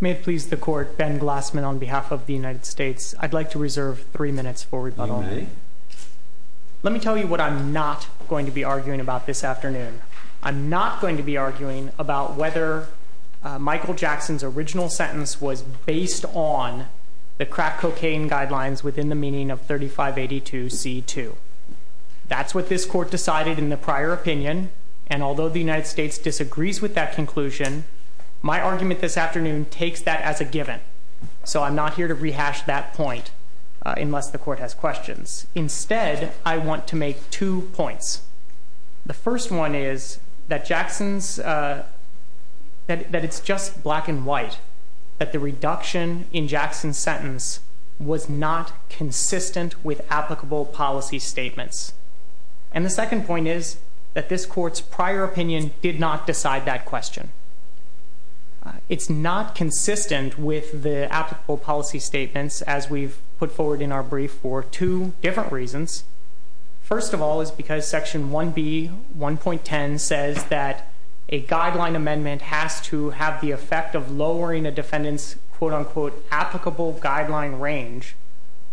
May it please the Court, Ben Glassman on behalf of the United States. I'd like to reserve three minutes for rebuttal. You may. Let me tell you what I'm not going to be arguing about this afternoon. I'm not going to be arguing about whether Michael Jackson's original sentence was based on the crack cocaine guidelines within the meaning of 3582 C 2. That's what this court decided in the prior opinion. And although the United States disagrees with that conclusion, my argument this afternoon takes that as a given. So I'm not here to rehash that point unless the court has questions. Instead, I want to make two points. The first one is that Jackson's, uh, that it's just black and white, that the reduction in Jackson's sentence was not consistent with applicable policy statements. And the second point is that this court's prior opinion did not decide that question. It's not consistent with the applicable policy statements, as we've put forward in our brief for two different reasons. First of all, is because Section one B 1.10 says that a guideline amendment has to have the effect of lowering a defendant's quote unquote applicable guideline range,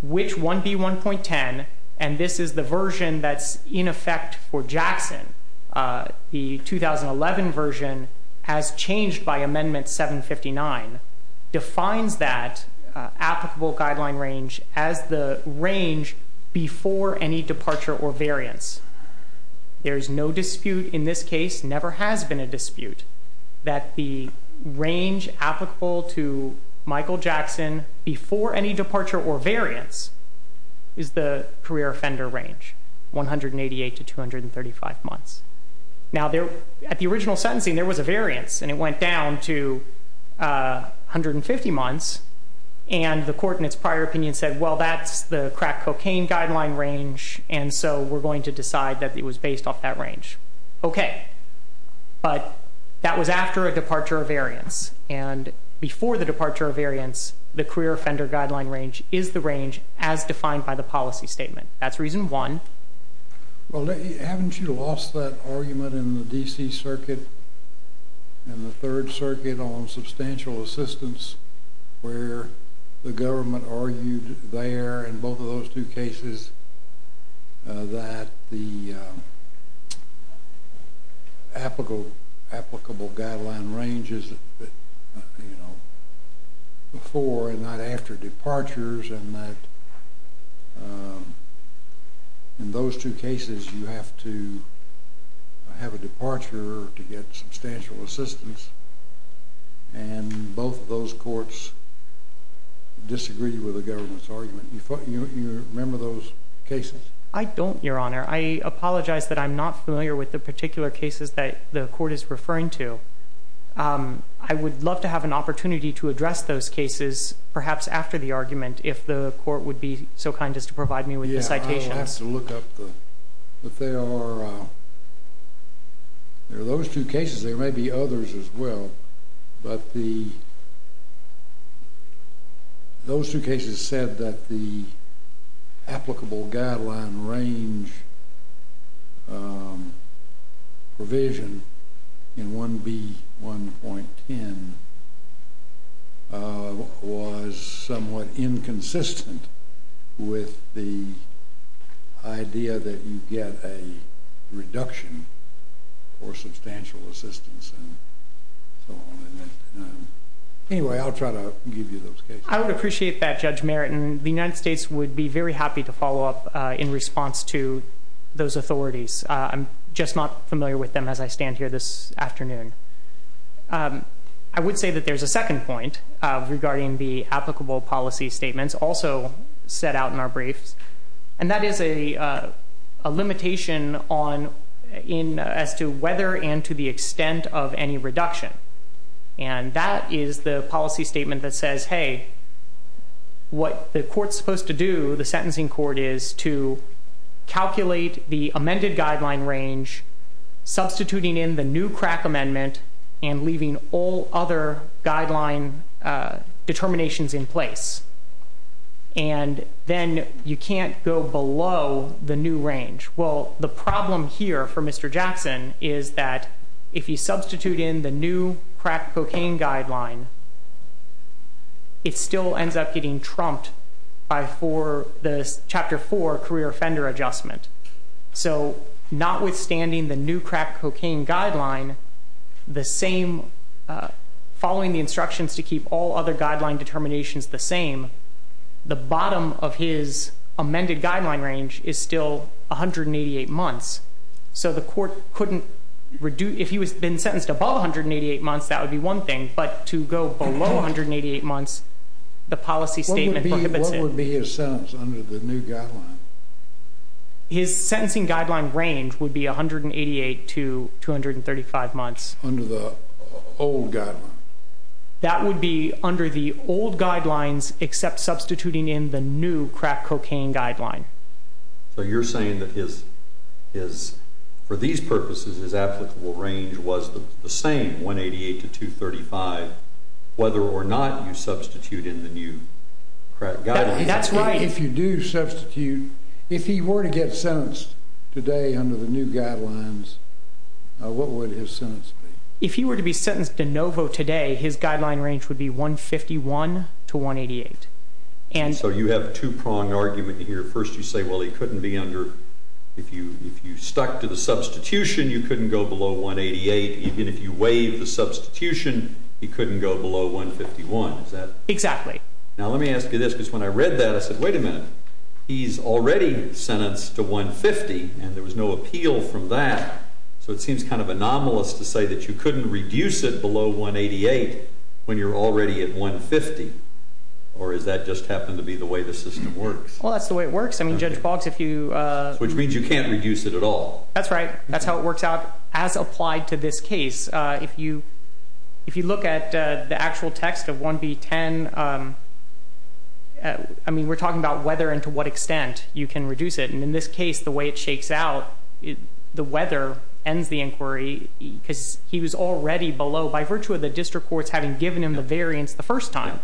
which one B 1.10. And this is the version that's in effect for Jackson. Uh, the 2011 version has changed by Amendment 7 59 defines that applicable guideline range as the range before any departure or variance. There is no dispute in this case. Never has been a dispute that the range applicable to Michael Jackson before any departure or variance is the career offender range 188 to 235 months. Now there at the original sentencing, there was a variance and it went down to, uh, 150 months. And the court in its prior opinion said, Well, that's the crack cocaine guideline range, and so we're going to decide that it was based off that range. Okay, but that was after a departure of variance. And before the departure of variance, the career offender guideline range is the range as defined by the policy statement. That's reason one. Well, haven't you lost that argument in the D. C. Circuit and the both of those two cases that the, uh, applicable applicable guideline range is, you know, before and not after departures and that, um, in those two cases, you have to have a departure to get substantial assistance. And both of those courts disagree with the government's member of those cases. I don't, Your Honor. I apologize that I'm not familiar with the particular cases that the court is referring to. Um, I would love to have an opportunity to address those cases, perhaps after the argument, if the court would be so kind as to provide me with the citations look up, but they are, uh, those two cases. There may be others as well, but the those two cases said that the applicable guideline range provision in 1 B 1.10, uh, was somewhat inconsistent with the idea that you get a reduction or so on. Anyway, I'll try to give you those. I would appreciate that. Judge Meritan, the United States would be very happy to follow up in response to those authorities. I'm just not familiar with them as I stand here this afternoon. Um, I would say that there's a second point regarding the applicable policy statements also set out in our briefs, and that is a limitation on in as to whether and to the extent of any reduction. And that is the policy statement that says, Hey, what the court's supposed to do, the sentencing court is to calculate the amended guideline range, substituting in the new crack amendment and leaving all other guideline determinations in place. And then you can't go below the new range. Well, the problem here for Mr Jackson is that if you substitute in the new crack cocaine guideline, it still ends up getting trumped by for the Chapter four career offender adjustment. So notwithstanding the new crack cocaine guideline, the same following the instructions to keep all other guideline determinations the same, the bottom of his amended guideline range is still 188 months. So the court couldn't reduce if he was been sentenced above 188 months. That would be one thing. But to go below 188 months, the policy statement would be his sense under the new guy. His sentencing guideline range would be 188 to 235 months under the old guy. That would be under the old guidelines except substituting in the new crack cocaine guideline. So you're saying that his is for these purposes is applicable range was the same 188 to 2 35 whether or not you substitute in the new guide. That's right. If you do substitute, if he were to get sentenced today under the new guidelines, what would his sentence? If you were to be sentenced to Novo today, his guideline range would be 1 51 to 1 88. And so you have two prong argument here. First, you say, Well, he couldn't be under. If you if you stuck to the substitution, you couldn't go below 1 88. Even if you waive the substitution, he couldn't go below 1 51. Is that exactly now? Let me ask you this, because when I read that, I said, Wait a minute. He's already sentenced to 1 50, and there was no appeal from that. So it seems kind of anomalous to say that you couldn't reduce it below 1 88 when you're already at 1 50. Or is that just happened to be the way the system works? Well, that's the way it works. I mean, Judge Boggs, if you which means you can't reduce it at all. That's right. That's how it works out as applied to this case. If you if you look at the actual text of 1 b 10, I mean, we're talking about whether and to what extent you can reduce it. And in this case, the way it shakes out the weather ends the inquiry because he was already below by virtue of the district courts having given him the variance the first time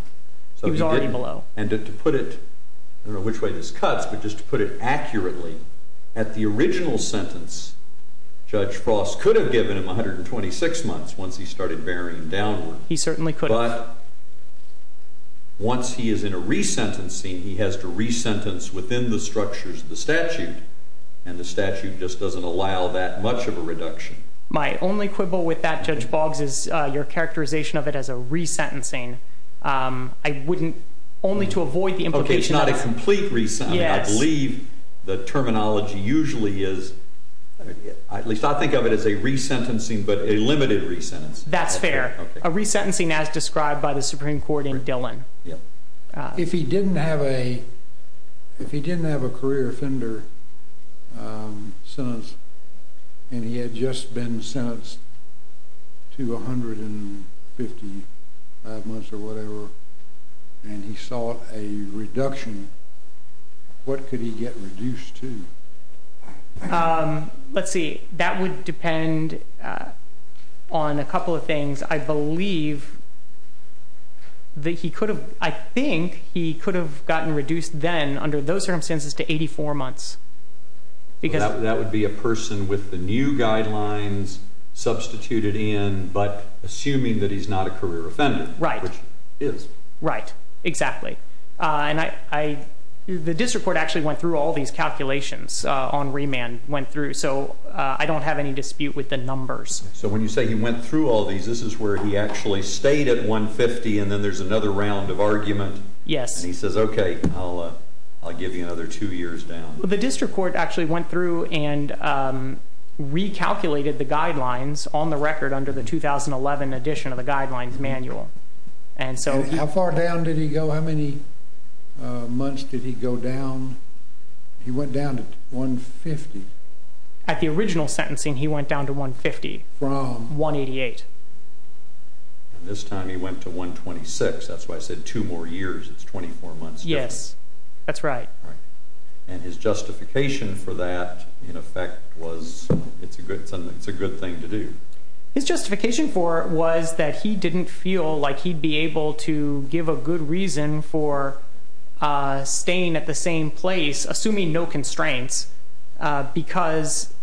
he was already below and to put it which way this cuts. But just put it accurately at the original sentence. Judge Frost could have given him 126 months once he started bearing down. He certainly could. Once he is in a resentencing, he has to resentence within the structures of the statute, and the statute just doesn't allow that much of a reduction. My only quibble with that, Judge Boggs, is your characterization of it as a resentencing. Um, I wouldn't only to avoid the implication. Not a complete reason. I believe the terminology usually is. At least I think of it as a resentencing, but a limited resentence. That's fair. A resentencing as described by the Supreme Court in Dillon. If he didn't have a if he didn't have a career offender, um, sons, and he had just been sentenced to 100 and 50 months or whatever, and he saw a reduction. What could he get reduced to? Um, let's see. That would depend on a couple of things. I believe that he could have. I think he could have gotten reduced then under those circumstances to 84 months because that would be a person with the new guidelines substituted in. But assuming that he's not a career offender, right? Is right. Exactly. And I the district court actually went through all these calculations on remand went through. So I don't have any dispute with the numbers. So when you say he went through all these, this is where he actually stayed at 1 50. And then there's another round of argument. Yes. He says, Okay, I'll give you another two years down. The district court actually went through and recalculated the guidelines on the record under the 2011 edition of the guidelines manual. And so how far down did he go? How many months did he go down? He went down to 1 50. At the original sentencing, he went down to 1 50 from 1 88. And this time he went to 1 26. That's why I said two more years. It's 24 months. Yes, that's right. And his justification for that, in effect, was it's a good, it's a good thing to do. His justification for was that he didn't feel like he'd be able to give a good reason for, uh, staying at the same place, assuming no constraints because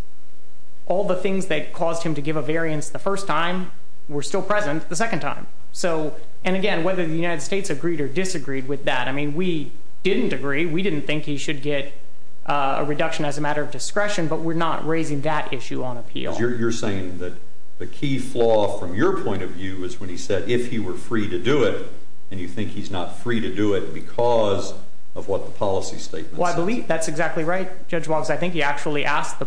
all the things that caused him to give a variance the first time were still present the second time. So and again, whether the United States agreed or disagreed with that, I mean, we didn't agree. We didn't think he should get a reduction as a matter of discretion, but we're not raising that issue on appeal. You're saying that the key flaw from your point of view is when he said if he were free to do it and you think he's not free to do it because of what the policy statement? Well, I believe that's exactly right. Judge was I think he actually asked the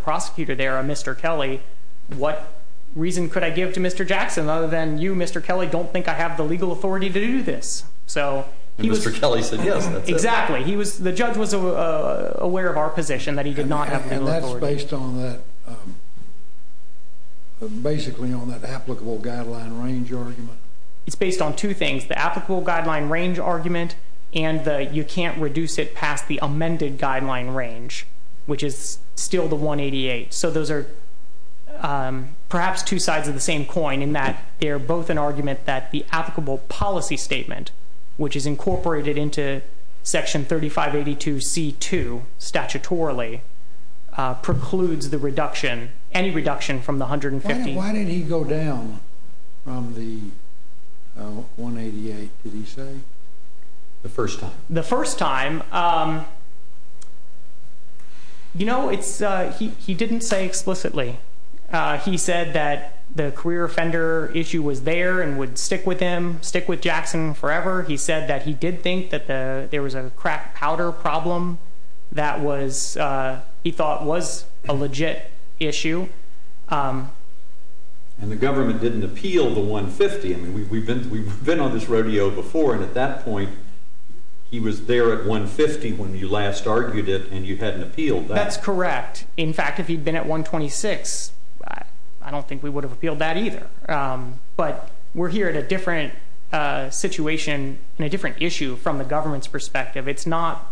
reason. Could I give to Mr Jackson other than you, Mr Kelly? Don't think I have the legal authority to do this. So he was Kelly said, Yes, exactly. He was. The judge was aware of our position that he did not have based on basically on that applicable guideline range argument. It's based on two things. The applicable guideline range argument and you can't reduce it past the amended guideline range, which is still the 1 88. So those air, um, perhaps two sides of the same coin in that they're both an argument that the applicable policy statement, which is incorporated into Section 35 82 C two statutorily precludes the reduction. Any reduction from the 150. Why did he go down from the 1 88? Did he say the first the first time? Um, you know, it's he didn't say explicitly. He said that the career offender issue was there and would stick with him. Stick with Jackson forever. He said that he did think that there was a crack powder problem that was, uh, he thought was a legit issue. Um, and the government didn't appeal the 1 50. We've been. We've been on this rodeo before, and at that point he was there at 1 50 when you last argued it, and you hadn't appealed. That's correct. In fact, if he'd been at 1 26, I don't think we would have appealed that either. But we're here at a different situation in a different issue from the government's perspective. It's not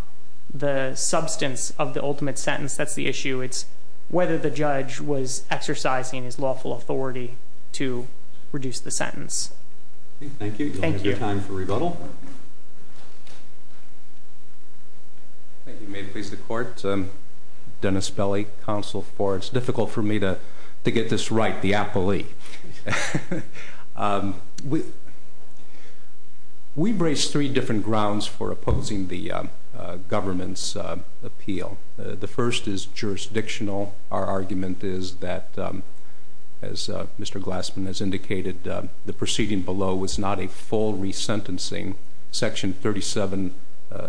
the substance of the ultimate sentence. That's the issue. It's whether the judge was exercising his lawful authority to reduce the sentence. Thank you. Thank you. Time for rebuttal. Thank you. May it please the court. Um, Dennis Belly, Council for it's difficult for me toe to get this right. The Apple II. Um, we we brace three different grounds for opposing the government's appeal. The first is jurisdictional. Our argument is that, um, as Mr Glassman has a full resentencing Section 37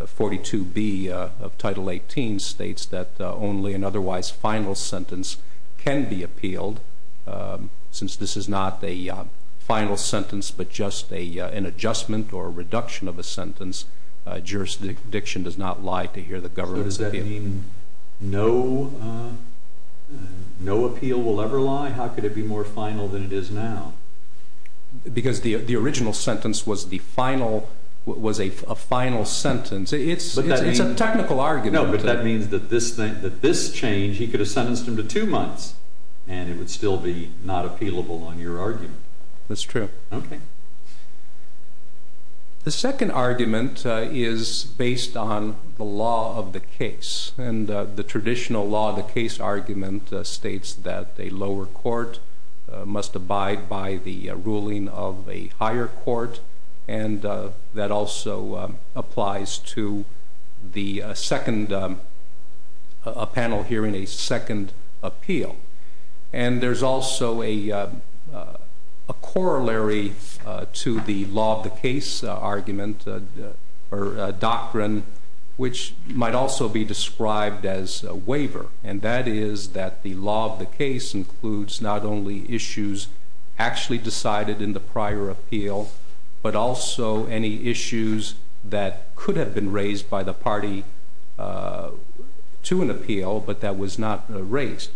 42 B of Title 18 states that only an otherwise final sentence can be appealed. Um, since this is not the final sentence but just a an adjustment or a reduction of a sentence, jurisdiction does not lie to hear the government's opinion. No, no appeal will ever lie. How could it be more final than it is now? Because the original sentence was the final was a final sentence. It's a technical argument. But that means that this thing that this change he could have sentenced him to two months and it would still be not appealable on your argument. That's true. Okay. The second argument is based on the law of the case and the traditional law. The case argument states that the lower court must abide by the ruling of a higher court. And that also applies to the second panel here in a second appeal. And there's also a corollary to the law of the case argument or doctrine, which might also be described as a waiver. And that is that the law of the case includes not only issues actually decided in the prior appeal, but also any issues that could have been raised by the party to an appeal. But that was not raised.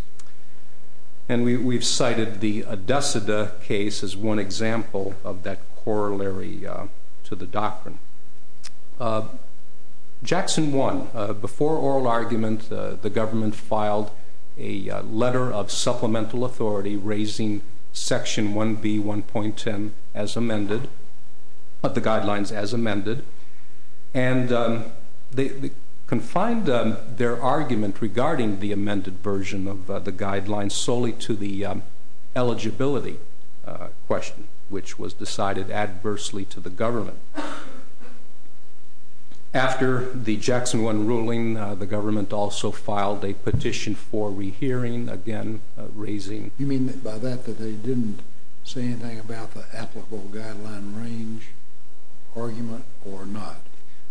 And we've cited the dust of the case is one example of that corollary to the doctrine. Uh, Jackson one before oral argument, the government filed a letter of supplemental authority, raising section one B 1.10 as amended. But the guidelines as amended and the confined their argument regarding the amended version of the guidelines solely to the eligibility question, which was decided adversely to the government after the Jackson one ruling, the government also filed a petition for rehearing again, raising you mean by that that they didn't say anything about the applicable guideline range argument or not.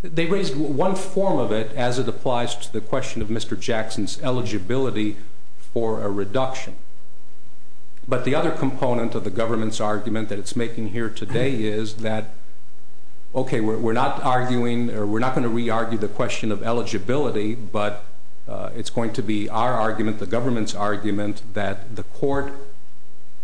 They raised one form of it as it applies to the question of Mr Jackson's eligibility for a reduction. But the other component of the government's argument that it's making here today is that okay, we're not arguing or we're not going to re argue the question of eligibility, but it's going to be our argument. The government's argument that the court,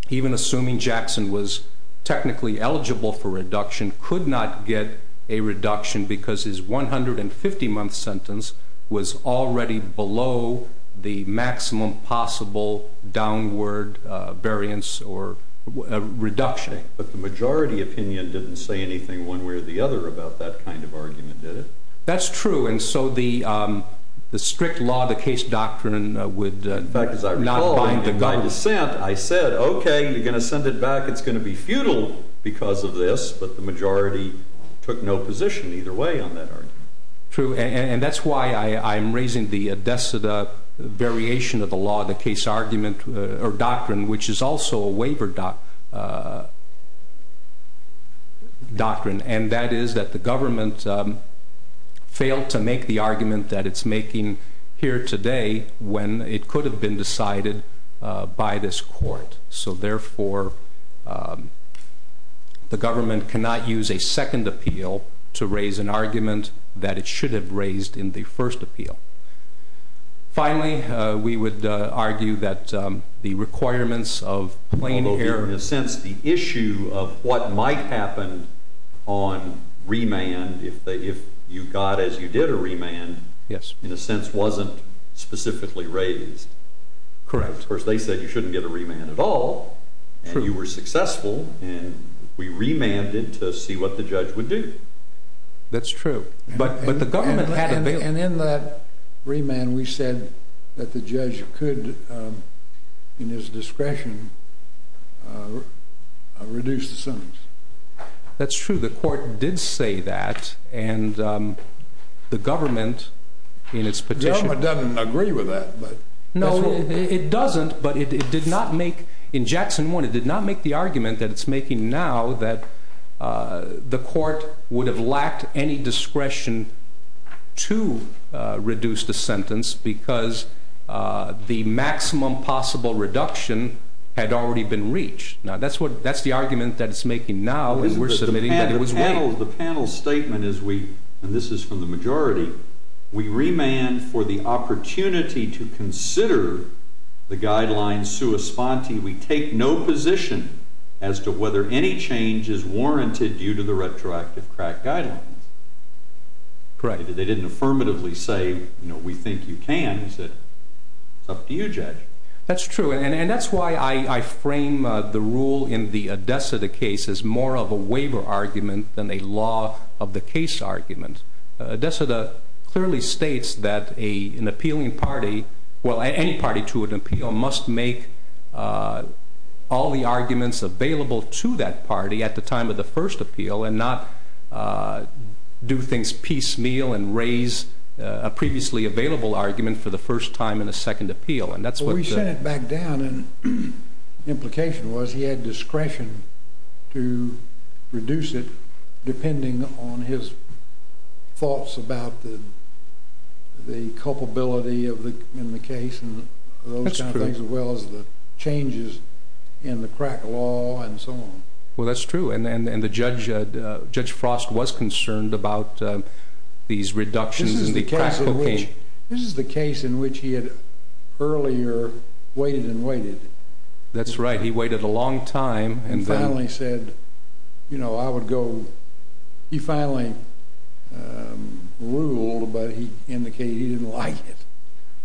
even assuming Jackson was technically eligible for reduction, could not get a reduction because his 150 month sentence was already below the maximum possible downward variance or reduction. But the majority opinion didn't say anything one way or the other about that kind of argument, did it? That's true. And so the, um, the strict law, the case doctrine would not bind the guy descent. I said, Okay, you're gonna send it back. It's gonna be futile because of this. But the majority took no position either way on true. And that's why I'm raising the deaths of the variation of the law, the case argument or doctrine, which is also a waiver doc doctrine. And that is that the government failed to make the argument that it's making here today when it could have been decided by this court. So therefore, um, the government cannot use a second appeal to raise an argument that it should have raised in the first appeal. Finally, we would argue that the requirements of playing here in a sense the issue of what might happen on remand. If you got as you did a remand, yes, in a sense, wasn't specifically raised. Correct. Of course, they said you shouldn't get a remand at all. You were successful, and we remanded to see what the judge would do. That's true. But the government and in that remand, we said that the judge could, in his discretion, reduce the sentence. That's true. The court did say that. And, um, the did not make in Jackson one. It did not make the argument that it's making now that, uh, the court would have lacked any discretion to reduce the sentence because, uh, the maximum possible reduction had already been reached. Now, that's what that's the argument that it's making. Now we're submitting that it was well, the panel statement is we and this is from the majority. We respond to you. We take no position as to whether any change is warranted due to the retroactive crack guidelines. Correct. They didn't affirmatively say, You know, we think you can. He said it's up to you, Judge. That's true. And that's why I frame the rule in the deaths of the case is more of a waiver argument than a law of the case argument. That's a the clearly states that a an appealing party. Well, any party to an appeal must make, uh, all the arguments available to that party at the time of the first appeal and not, uh, do things piecemeal and raise a previously available argument for the first time in a second appeal. And that's what we sent back down. And the implication was he had discretion to reduce it, depending on his thoughts about the culpability of the in the case and those things as well as the changes in the crack law and so on. Well, that's true. And and and the judge, Judge Frost was concerned about these reductions in the case. This is the case in which he had earlier waited and waited. That's right. He waited a long time and finally said, You know, I would go. He finally, um, ruled, but he indicated he didn't like it.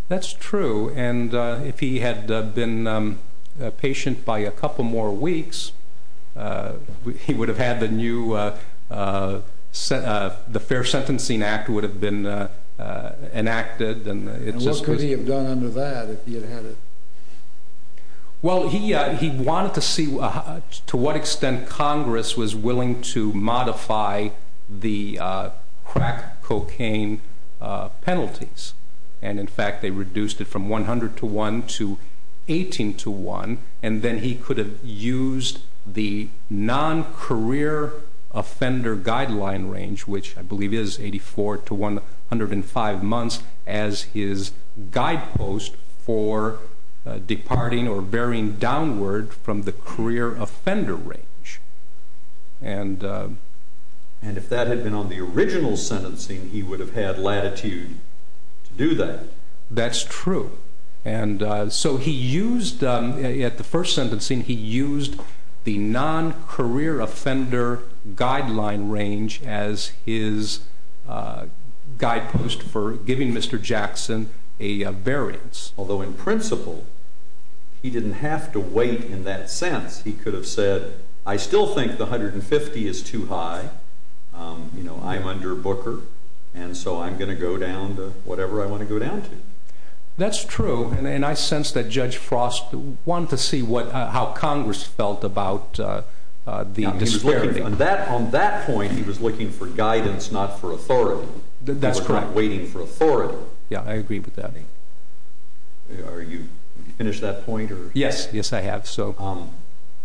That's true. And if he had been a patient by a couple more weeks, uh, he would have had the new, uh, uh, the Fair Sentencing Act would have been, uh, enacted. And what could he have done under that if he had had it? Well, he he wanted to see to what extent Congress was willing to modify the, uh, crack cocaine penalties. And in fact, they reduced it from 100 to 1 to 18 to 1. And then he could have used the non career offender guideline range, which I believe is 84 to 105 months as his guidepost for departing or bearing downward from the career offender range. And, uh, and if that had been on the original sentencing, he would have had latitude to do that. That's true. And so he used at the first sentencing. He used the non career offender guideline range as his, uh, guidepost for giving Mr Jackson a variance. Although, in principle, he didn't have to wait. In that sense, he could have said, I still think the 150 is too high. Um, you know, I'm under Booker, and so I'm gonna go down to whatever I want to go down to. That's true. And I sense that Judge Frost want to see what how Congress felt about, uh, the on that on that point, he was looking for guidance, not for authority. That's correct. Waiting for authority. Yeah, I agree with that. Are you finished that point? Yes. Yes, I have. So, um,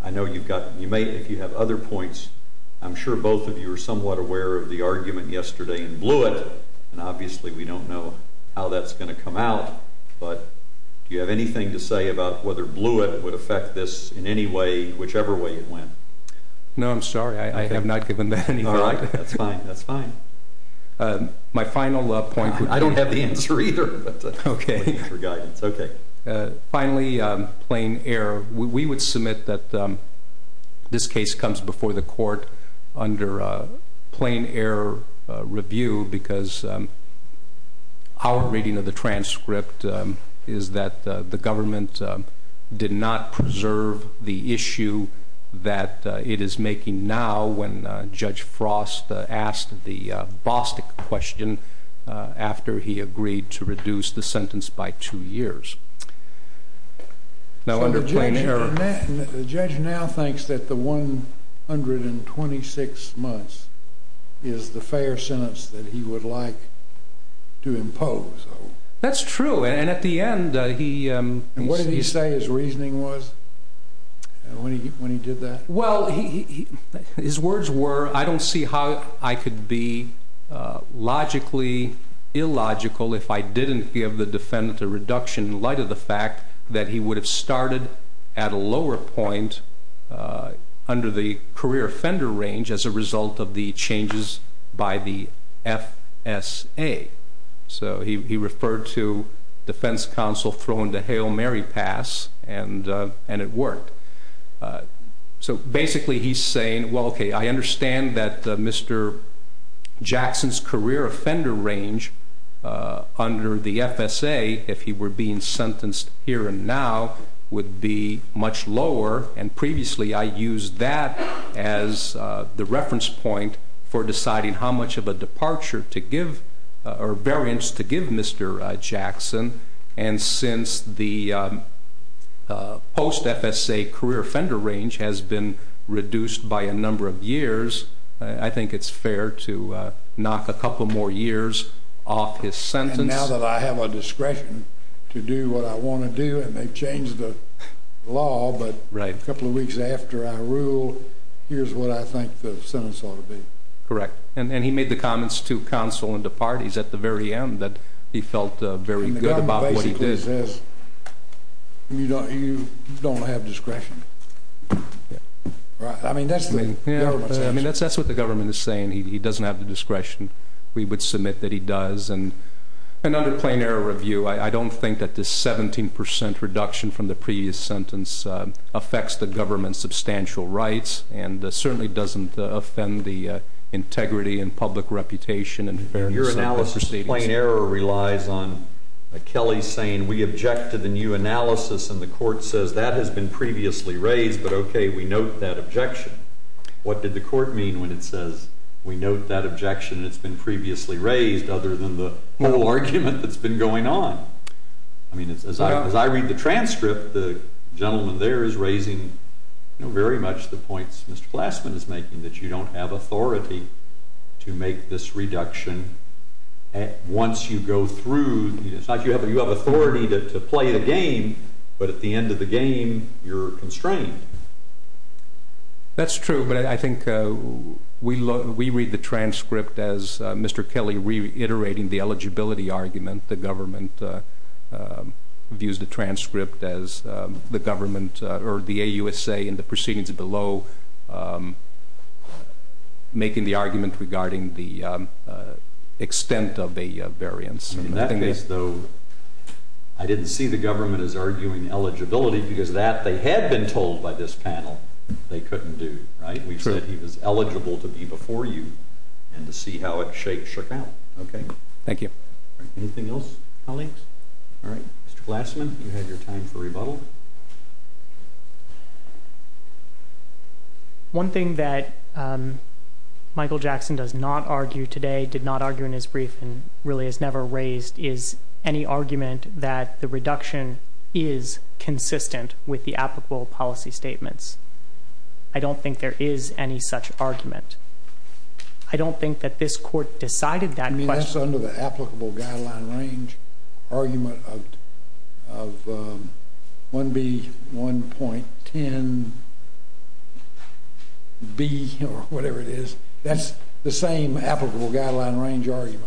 I know you've got you made if you have other points. I'm sure both of you are somewhat aware of the argument yesterday and blew it. And obviously, we don't know how that's gonna come out. But do you have anything to say about whether blew it would affect this in any way, whichever way it went? No, I'm sorry. I have not given that. All right, that's fine. That's fine. Uh, my final point. I don't have the answer either. Okay, for guidance. Okay, finally, plain air. We would submit that, um, this case comes before the court under plain air review because, um, our reading of the transcript is that the government did not preserve the judge. Frost asked the Bostick question after he agreed to reduce the sentence by two years. Now, under plain air, the judge now thinks that the 126 months is the fair sentence that he would like to impose. That's true. And at the end, he what did he say? His reasoning was when he when he did that? Well, his words were I don't see how I could be logically illogical if I didn't give the defendant a reduction in light of the fact that he would have started at a lower point, uh, under the career offender range as a result of the changes by the F s a. So he referred to defense counsel thrown the Hail Mary pass and and it worked. So basically, he's saying, Well, okay, I understand that Mr Jackson's career offender range under the F s a if he were being sentenced here and now would be much lower. And previously I used that as the reference point for Jackson. And since the post F s a career offender range has been reduced by a number of years, I think it's fair to knock a couple more years off his sentence. Now that I have a discretion to do what I want to do, and they've changed the law. But right a couple of weeks after I rule, here's what I think the sentence ought to be correct. And he made the comments to counsel in the parties at the very end that he felt very good about what he did. You don't You don't have discretion. Right. I mean, that's the I mean, that's that's what the government is saying. He doesn't have the discretion. We would submit that he does. And another plain error review. I don't think that this 17% reduction from the previous sentence affects the government's substantial rights and certainly doesn't relies on Kelly saying we object to the new analysis, and the court says that has been previously raised. But okay, we note that objection. What did the court mean when it says we note that objection? It's been previously raised other than the whole argument that's been going on. I mean, as I as I read the transcript, the gentleman there is raising very much the points Mr Glassman is making that you don't have authority to make this reduction once you go through. It's not you have. You have authority to play the game. But at the end of the game, you're constrained. That's true. But I think we look we read the transcript as Mr Kelly reiterating the eligibility argument. The government views the transcript as the government or the USA in the proceedings below, um, making the argument regarding the, uh, extent of the variance. And that is, though, I didn't see the government is arguing eligibility because that they had been told by this panel they couldn't do right. We said he was eligible to be before you and to see how it shakes shook out. Okay, thank you. Anything else, colleagues? All right, Mr Glassman, you had your time for rebuttal. One thing that, um, Michael Jackson does not argue today did not argue in his brief and really has never raised is any argument that the reduction is consistent with the applicable policy statements. I don't think there is any such argument. I don't think that this court decided that. I mean, that's under the applicable guideline range argument of one B 1.10 B or whatever it is. That's the same applicable guideline range argument.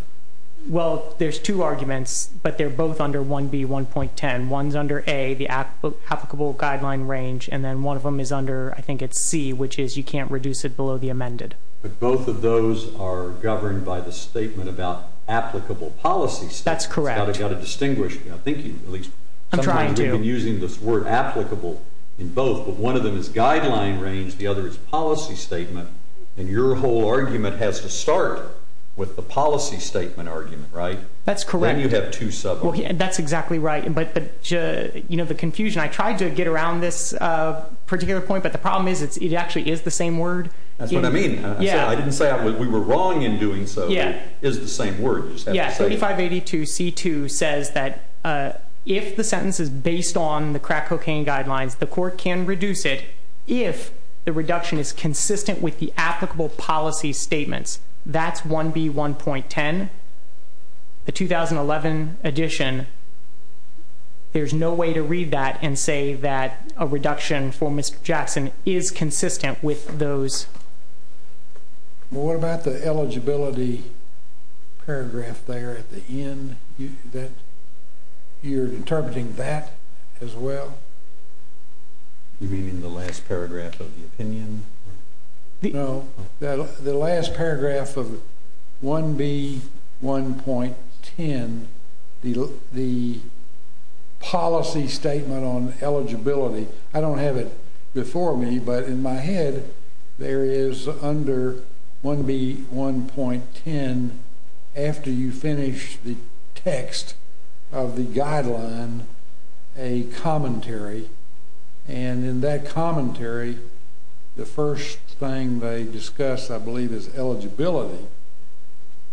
Well, there's two arguments, but they're both under one B 1.10 ones under a the applicable guideline range, and then one of them is under. I think it's C, which is you can't reduce it below the amended. But both of those are governed by the statement about applicable policy. That's correct. Gotta distinguish. I think you at least I'm trying to using this word applicable in one of them is guideline range. The other is policy statement. And your whole argument has to start with the policy statement argument, right? That's correct. You have to sub. That's exactly right. But you know the confusion I tried to get around this particular point. But the problem is, it actually is the same word. That's what I mean. Yeah, I didn't say we were wrong in doing so. Yeah, is the same word. 35 82 C two says that if the if the reduction is consistent with the applicable policy statements, that's one B 1.10 the 2011 edition. There's no way to read that and say that a reduction for Mr Jackson is consistent with those. What about the eligibility paragraph there at the end that you're interpreting that as well? You mean in the last paragraph of the opinion? No, the last paragraph of one B 1.10 the the policy statement on eligibility. I don't have it before me, but in my head there is under one B 1.10. After you finish the text of the and in that commentary, the first thing they discussed, I believe, is eligibility.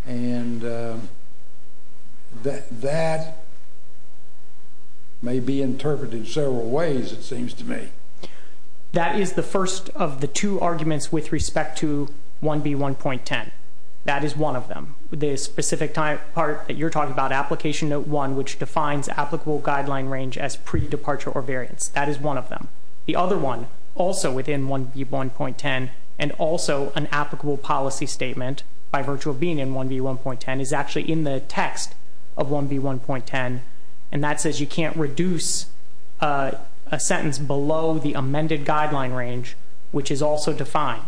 And that that may be interpreted several ways. It seems to me that is the first of the two arguments with respect to one B 1.10. That is one of them. The specific time part that you're talking about application one, which defines applicable guideline range as pre departure or variance. That is one of them. The other one also within one B 1.10 and also an applicable policy statement by virtual being in one B 1.10 is actually in the text of one B 1.10. And that says you can't reduce a sentence below the amended guideline range, which is also defined.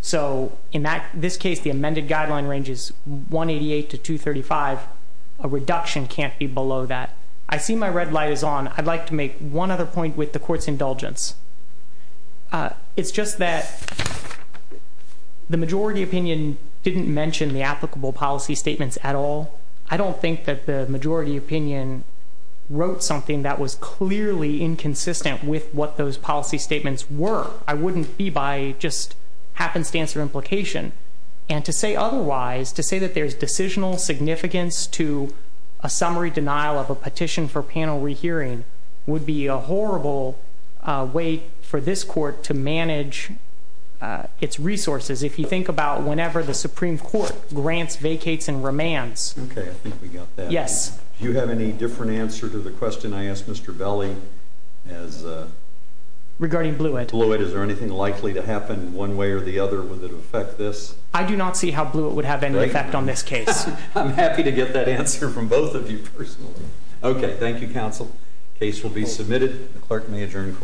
So in that this case, the amended guideline range is 1 88 to 2 35. A reduction can't be below that. I see my red light is on. I'd like to make one other point with the court's indulgence. It's just that the majority opinion didn't mention the applicable policy statements at all. I don't think that the majority opinion wrote something that was clearly inconsistent with what those policy statements were. I wouldn't be by just happens to answer implication and to say otherwise, to say that there's decisional significance to a summary denial of a petition for panel rehearing would be a horrible way for this court to manage its resources. If you think about whenever the Supreme Court grants vacates and remands. Yes, you have any different answer to the question? I asked Mr Belly as a regarding blew it blew it. Is there anything likely to happen one way or the other? Would it affect this? I do not see how blue it would have any effect on this case. I'm happy to get that answer from both of you. Okay. Thank you, Counsel. Case will be submitted. Clerk may adjourn.